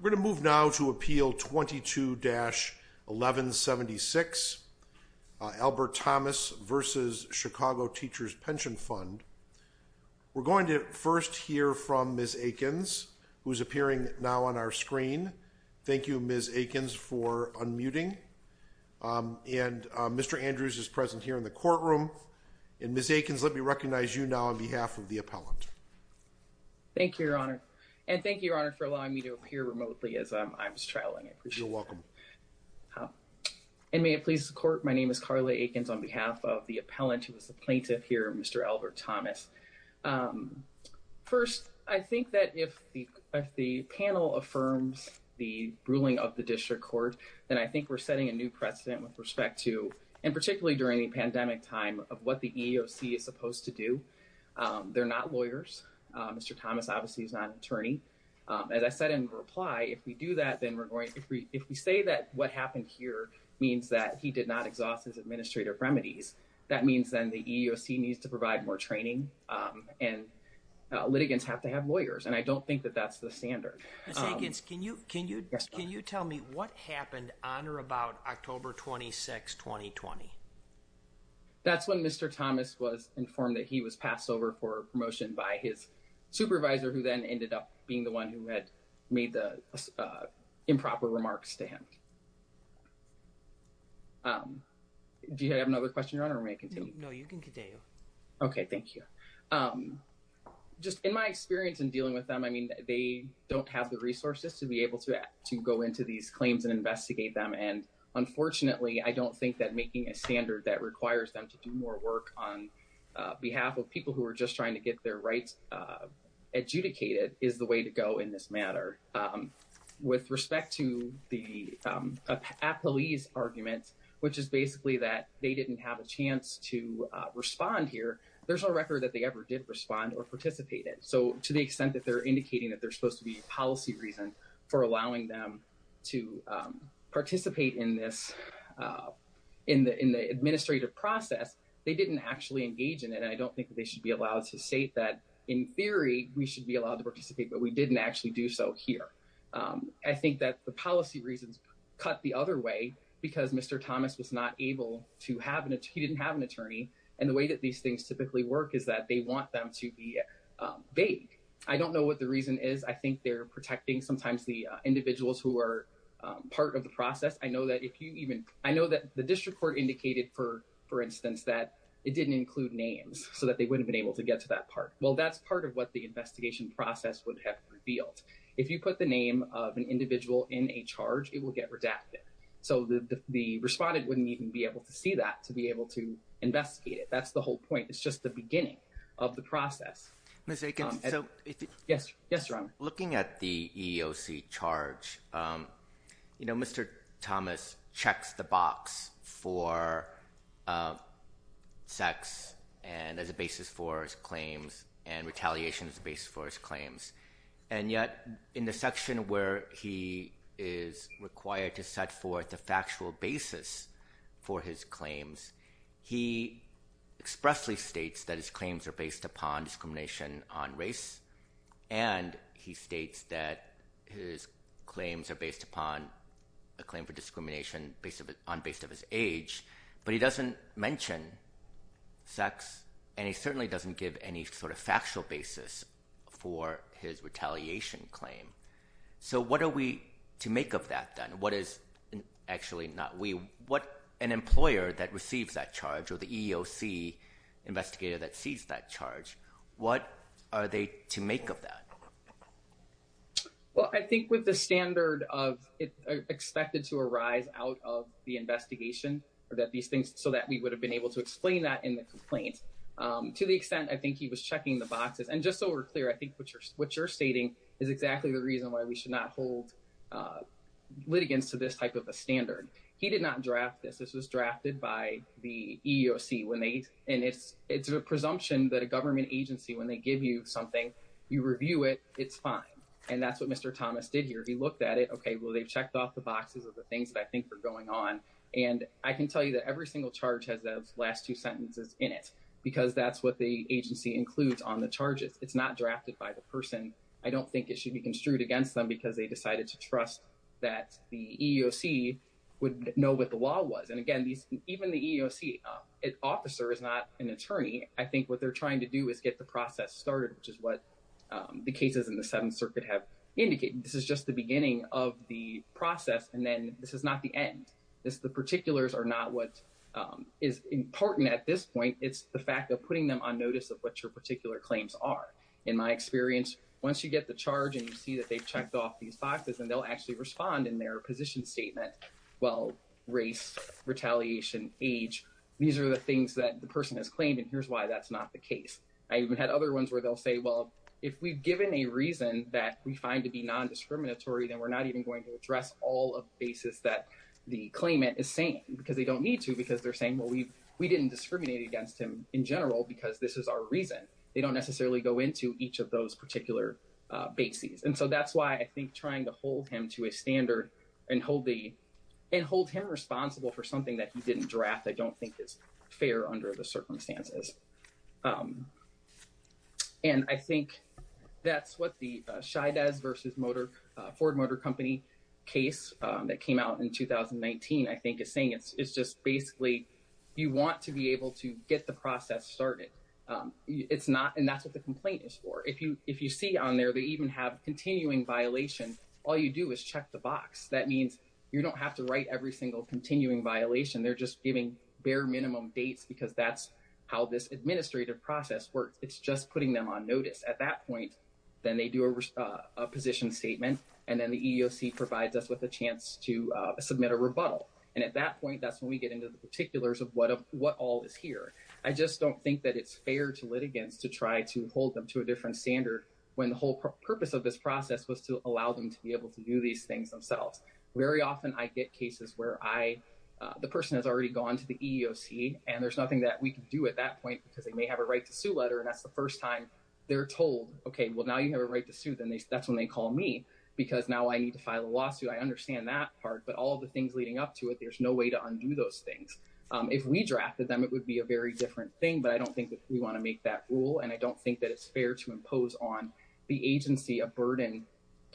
We're going to move now to Appeal 22-1176, Albert Thomas v. Chicago Teachers' Pension Fund. We're going to first hear from Ms. Akins, who's appearing now on our screen. Thank you, Ms. Akins, for unmuting. And Mr. Andrews is present here in the courtroom. And Ms. Akins, let me recognize you now on behalf of the appellant. Thank you, Your Honor. And thank you, Your Honor, for allowing me to appear remotely as I'm traveling. You're welcome. And may it please the Court, my name is Karla Akins on behalf of the appellant who is the plaintiff here, Mr. Albert Thomas. First, I think that if the panel affirms the ruling of the District Court, then I think we're setting a new precedent with respect to, and particularly during the pandemic time, of what the EEOC is supposed to do. They're not lawyers. Mr. Thomas obviously is not an attorney. As I said in reply, if we do that, then we're going to, if we say that what happened here means that he did not exhaust his administrative remedies, that means then the EEOC needs to provide more training and litigants have to have lawyers. And I don't think that that's the standard. Ms. Akins, can you tell me what happened on or about October 26, 2020? That's when Mr. Thomas was informed that he was passed over for promotion by his supervisor, who then ended up being the one who had made the improper remarks to him. Do you have another question, Your Honor, or may I continue? No, you can continue. Okay, thank you. Just in my experience in dealing with them, I mean, they don't have the resources to be able to go into these claims and investigate them. And unfortunately, I don't think that making a standard that requires them to do more work on behalf of people who are just trying to get their rights adjudicated is the way to go in this matter. With respect to the police arguments, which is basically that they didn't have a chance to respond here, there's no record that they ever did respond or participate in. So to the extent that they're indicating that they're supposed to be for allowing them to participate in the administrative process, they didn't actually engage in it. And I don't think that they should be allowed to say that in theory we should be allowed to participate, but we didn't actually do so here. I think that the policy reasons cut the other way because Mr. Thomas was not able to have an attorney. He didn't have an attorney. And the way that these things typically work is that they want them to be vague. I don't know what the reason is. I think they're protecting sometimes the individuals who are part of the process. I know that the district court indicated, for instance, that it didn't include names so that they wouldn't have been able to get to that part. Well, that's part of what the investigation process would have revealed. If you put the name of an individual in a charge, it will get redacted. So the respondent wouldn't even be able to see that to be able to investigate it. That's the point. It's just the beginning of the process. Looking at the EEOC charge, Mr. Thomas checks the box for sex as a basis for his claims and retaliation as a basis for his claims. And yet, in the section where he is required to set the factual basis for his claims, he expressly states that his claims are based upon discrimination on race. And he states that his claims are based upon a claim for discrimination based on his age. But he doesn't mention sex. And he certainly doesn't give any sort of factual basis for his retaliation claim. So what are we to make of that then? What is actually not we, what an employer that receives that charge or the EEOC investigator that sees that charge, what are they to make of that? Well, I think with the standard of expected to arise out of the investigation or that these things so that we would have been able to explain that in the boxes. And just so we're clear, I think what you're stating is exactly the reason why we should not hold litigants to this type of a standard. He did not draft this. This was drafted by the EEOC. And it's a presumption that a government agency, when they give you something, you review it, it's fine. And that's what Mr. Thomas did here. He looked at it. Okay, well, they've checked off the boxes of the things that I think were going on. And I can tell you that every single charge has those last two sentences in it, because that's what the agency includes on the charges. It's not drafted by the person. I don't think it should be construed against them because they decided to trust that the EEOC would know what the law was. And again, even the EEOC officer is not an attorney. I think what they're trying to do is get the process started, which is what the cases in the Seventh Circuit have indicated. This is just the beginning of the process. And then this is not the end. The particulars are not what is important at this point in time, but what is important is what their claims are. In my experience, once you get the charge and you see that they've checked off these boxes, and they'll actually respond in their position statement, well, race, retaliation, age, these are the things that the person has claimed. And here's why that's not the case. I even had other ones where they'll say, well, if we've given a reason that we find to be non-discriminatory, then we're not even going to address all of the bases that the claimant is saying, because they don't need to, because they're saying, well, we didn't discriminate against him in general because this is our reason. They don't necessarily go into each of those particular bases. And so that's why I think trying to hold him to a standard and hold the, and hold him responsible for something that he didn't draft, I don't think is fair under the circumstances. And I think that's what the Scheides versus Ford Motor Company case that came out in 2019, I think, is saying. It's just basically, you want to be able to get the process started. It's not, and that's what the complaint is for. If you see on there, they even have continuing violation. All you do is check the box. That means you don't have to write every single continuing violation. They're just giving bare minimum dates because that's how this administrative process works. It's just putting them on notice. At that point, then they do a position statement, and then the that's when we get into the particulars of what all is here. I just don't think that it's fair to litigants to try to hold them to a different standard when the whole purpose of this process was to allow them to be able to do these things themselves. Very often, I get cases where I, the person has already gone to the EEOC, and there's nothing that we can do at that point because they may have a right to sue letter, and that's the first time they're told, okay, well, now you have a right to sue. Then that's when they call me because now I need to file a lawsuit. I understand that part, but all the things leading up to it, there's no way to undo those things. If we drafted them, it would be a very different thing, but I don't think that we want to make that rule, and I don't think that it's fair to impose on the agency a burden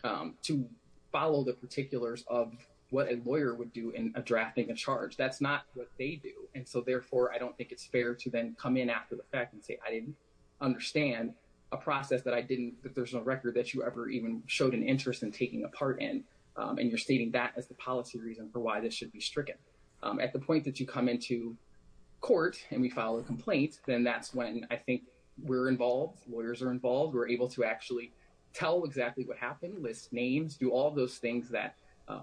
to follow the particulars of what a lawyer would do in drafting a charge. That's not what they do, and so, therefore, I don't think it's fair to then come in after the fact and say I didn't understand a process that I didn't, that there's no record that you ever even showed an interest in taking a part in, and you're stating that as the policy reason for why this should be stricken. At the point that you come into court and we file a complaint, then that's when I think we're involved. Lawyers are involved. We're able to actually tell exactly what happened, list names, do all those things that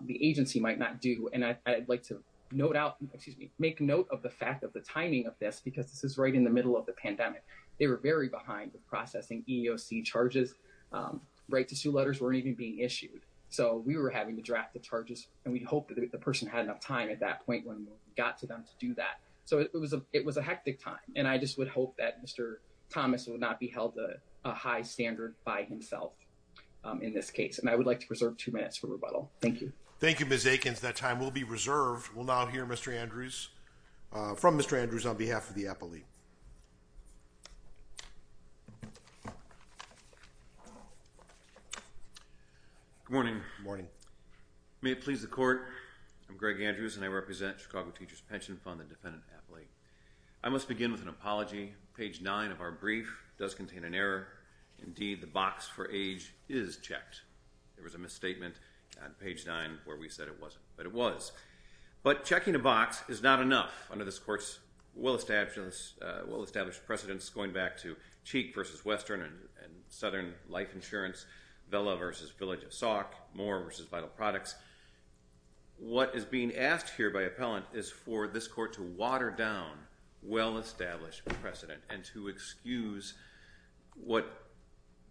the agency might not do, and I'd like to note out, excuse me, make note of the fact of the timing of this because this is right in the middle of the pandemic. They were behind with processing EEOC charges. Right to sue letters weren't even being issued, so we were having to draft the charges, and we hoped that the person had enough time at that point when we got to them to do that, so it was a hectic time, and I just would hope that Mr. Thomas would not be held to a high standard by himself in this case, and I would like to preserve two minutes for rebuttal. Thank you. Thank you, Ms. Akins. That time will be reserved. We'll now hear Mr. Andrews from Mr. Andrews on behalf of the appellee. Good morning. Good morning. May it please the court, I'm Greg Andrews, and I represent Chicago Teachers Pension Fund, the defendant appellee. I must begin with an apology. Page nine of our brief does contain an error. Indeed, the box for age is checked. There was a misstatement on page nine where we said it wasn't, but it was, but checking a box is not enough under this court's well established precedence going back to Cheek v. Western and Southern Life Insurance, Vella v. Village of Sauk, Moore v. Vital Products. What is being asked here by appellant is for this court to water down well-established precedent and to excuse what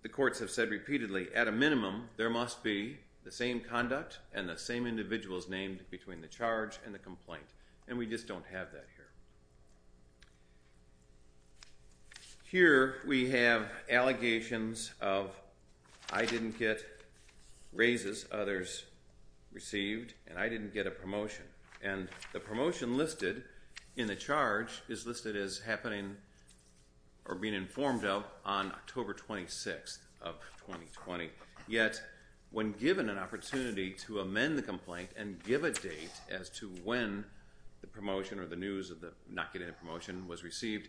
the courts have said repeatedly. At a minimum, there must be the same conduct and the same individuals named between the charge and the complaint, and we just don't have that here. Here we have allegations of I didn't get raises, others received, and I didn't get a promotion, and the promotion listed in the charge is listed as happening or being informed of on October 26th of 2020, yet when given an the promotion or the news of the not getting a promotion was received.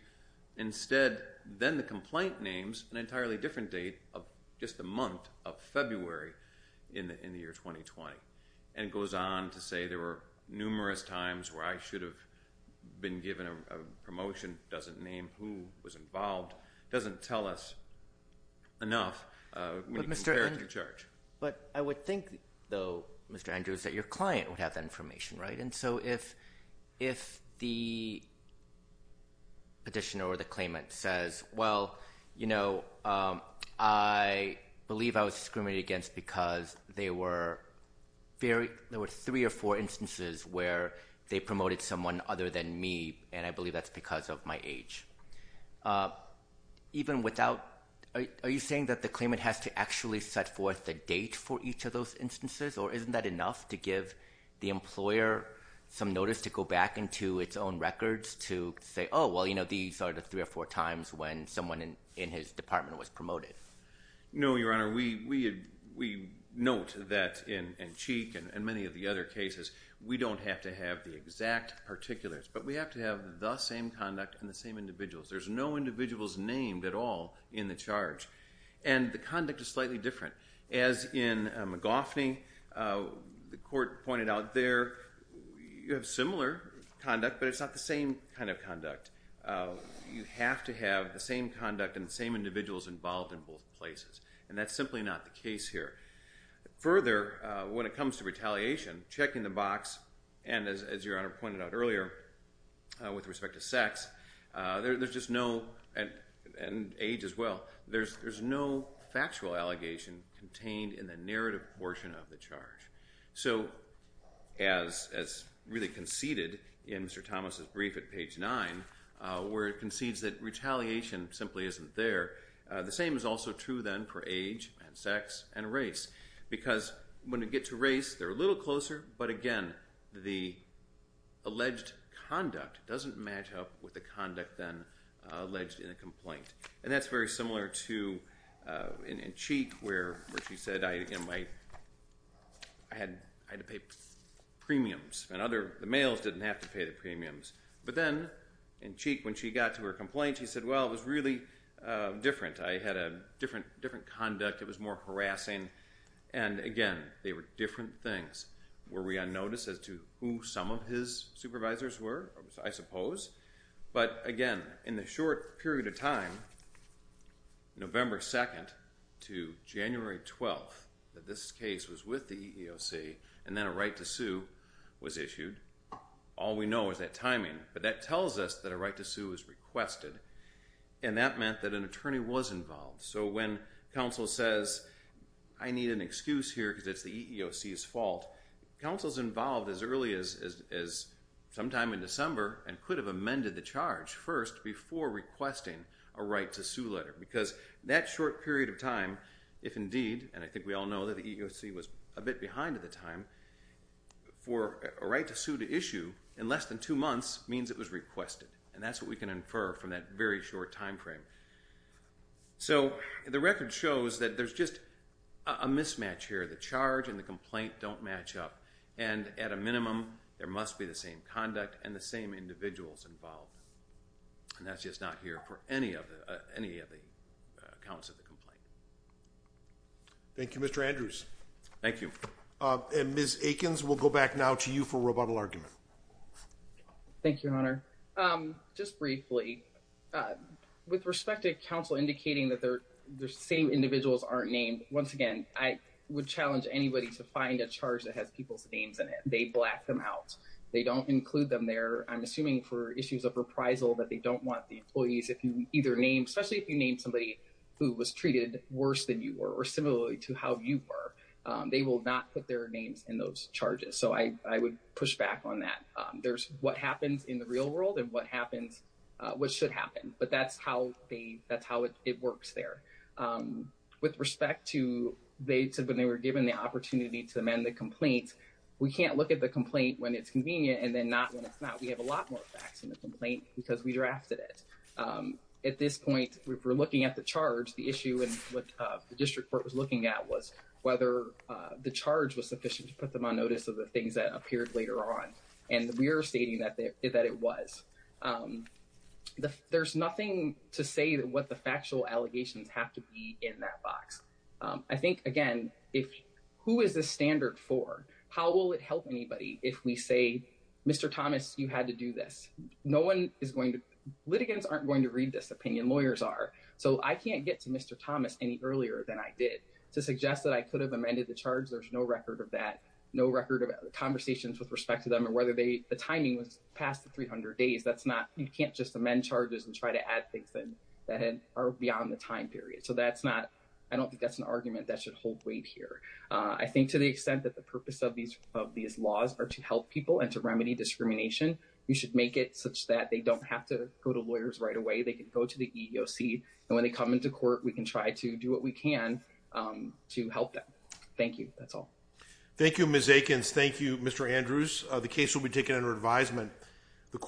Instead, then the complaint names an entirely different date of just the month of February in the year 2020, and goes on to say there were numerous times where I should have been given a promotion, doesn't name who was involved, doesn't tell us enough when you compare it to the charge. But I would think though, Mr. Andrews, that your client would have that information, right? And so if the petitioner or the claimant says, well, you know, I believe I was discriminated against because there were three or four instances where they promoted someone other than me, and I believe that's because of my age. Are you saying that the claimant has to actually set forth a date for each of those instances, or isn't that enough to give the employer some notice to go back into its own records to say, oh, well, you know, these are the three or four times when someone in his department was promoted? No, Your Honor. We note that in Cheek and many of the other cases, we don't have to have the exact particulars, but we have to have the same conduct and the same individuals. There's no individuals named at all in the charge, and the conduct is slightly different. As in McGoffney, the court pointed out there, you have similar conduct, but it's not the same kind of conduct. You have to have the same conduct and the same individuals involved in both places, and that's simply not the case here. Further, when it comes to retaliation, checking the box, and as Your Honor pointed out earlier, with respect to sex, there's just no, and age as well, there's no factual allegation contained in the narrative portion of the charge. So, as really conceded in Mr. Thomas' brief at page 9, where it concedes that retaliation simply isn't there, the same is also true then for age and sex and race, because when you get to race, they're a little closer, but again, the alleged conduct doesn't match up with the conduct then alleged in a complaint, and that's very similar to in Cheek, where she said, I had to pay premiums, and the males didn't have to pay the premiums, but then in Cheek, when she got to her complaint, she said, well, it was really different. I had a different conduct. It was more harassing, and again, they were different things. Were we on notice as to who some of his supervisors were? I suppose, but again, in the short period of time, November 2nd to January 12th, that this case was with the EEOC, and then a right to sue was issued, all we know is that timing, but that tells us that a right to sue was requested, and that meant that an attorney was involved, so when counsel says, I need an excuse here because it's the EEOC's fault, counsel's involved as early as sometime in December and could have amended the charge first before requesting a right to sue letter, because that short period of time, if indeed, and I think we all know that the EEOC was a bit behind at the time, for a right to sue to issue in less than two months means it was requested, and that's what we can infer from that very short time frame, so the record shows that there's just a mismatch here. The charge and the complaint don't match up, and at a minimum, there must be the same conduct and the same individuals involved, and that's just not here for any of the accounts of the complaint. Thank you, Mr. Andrews. Thank you. And Ms. Aikens, we'll go back now to you for rebuttal argument. Thank you, Your Honor. Just briefly, with respect to counsel indicating that the same individuals aren't named, once again, I would challenge anybody to find a charge that has people's names in it. They black them out. They don't include them there. I'm assuming for issues of reprisal that they don't want the employees, if you either name, especially if you name somebody who was treated worse than you were or similarly to how you were, they will not put their names in those charges, so I would push back on that. There's what happens in the real world and what happens, what should happen, but that's how they, that's how it works there. With respect to when they were given the opportunity to amend the complaint, we can't look at the complaint when it's convenient and then not when it's not. We have a lot more facts in the complaint because we drafted it. At this point, if we're looking at the charge, the issue in what the district court was looking at was whether the charge was sufficient to put them on notice of the things that appeared later on, and we are stating that it was. There's nothing to say what the factual allegations have to be in that box. I think, again, who is this standard for? How will it help anybody if we say, Mr. Thomas, you had to do this? Litigants aren't going to read this opinion. Lawyers are, so I can't get to Mr. Thomas any earlier than I did to suggest that I could have amended the charge. There's no record of that, no record of conversations with respect to them or whether the timing was past the 300 days. That's not, you can't just amend charges and try to add things that are beyond the time period, so that's not, I don't think that's an argument that should hold weight here. I think to the extent that the purpose of these laws are to help people and to remedy discrimination, we should make it such that they don't have to go to lawyers right away. They can go to the EEOC, and when they come into court, we can try to do what we can to help them. Thank you. That's all. Thank you, Ms. Akins. Thank you, Mr. Andrews. The case will be taken under advisement.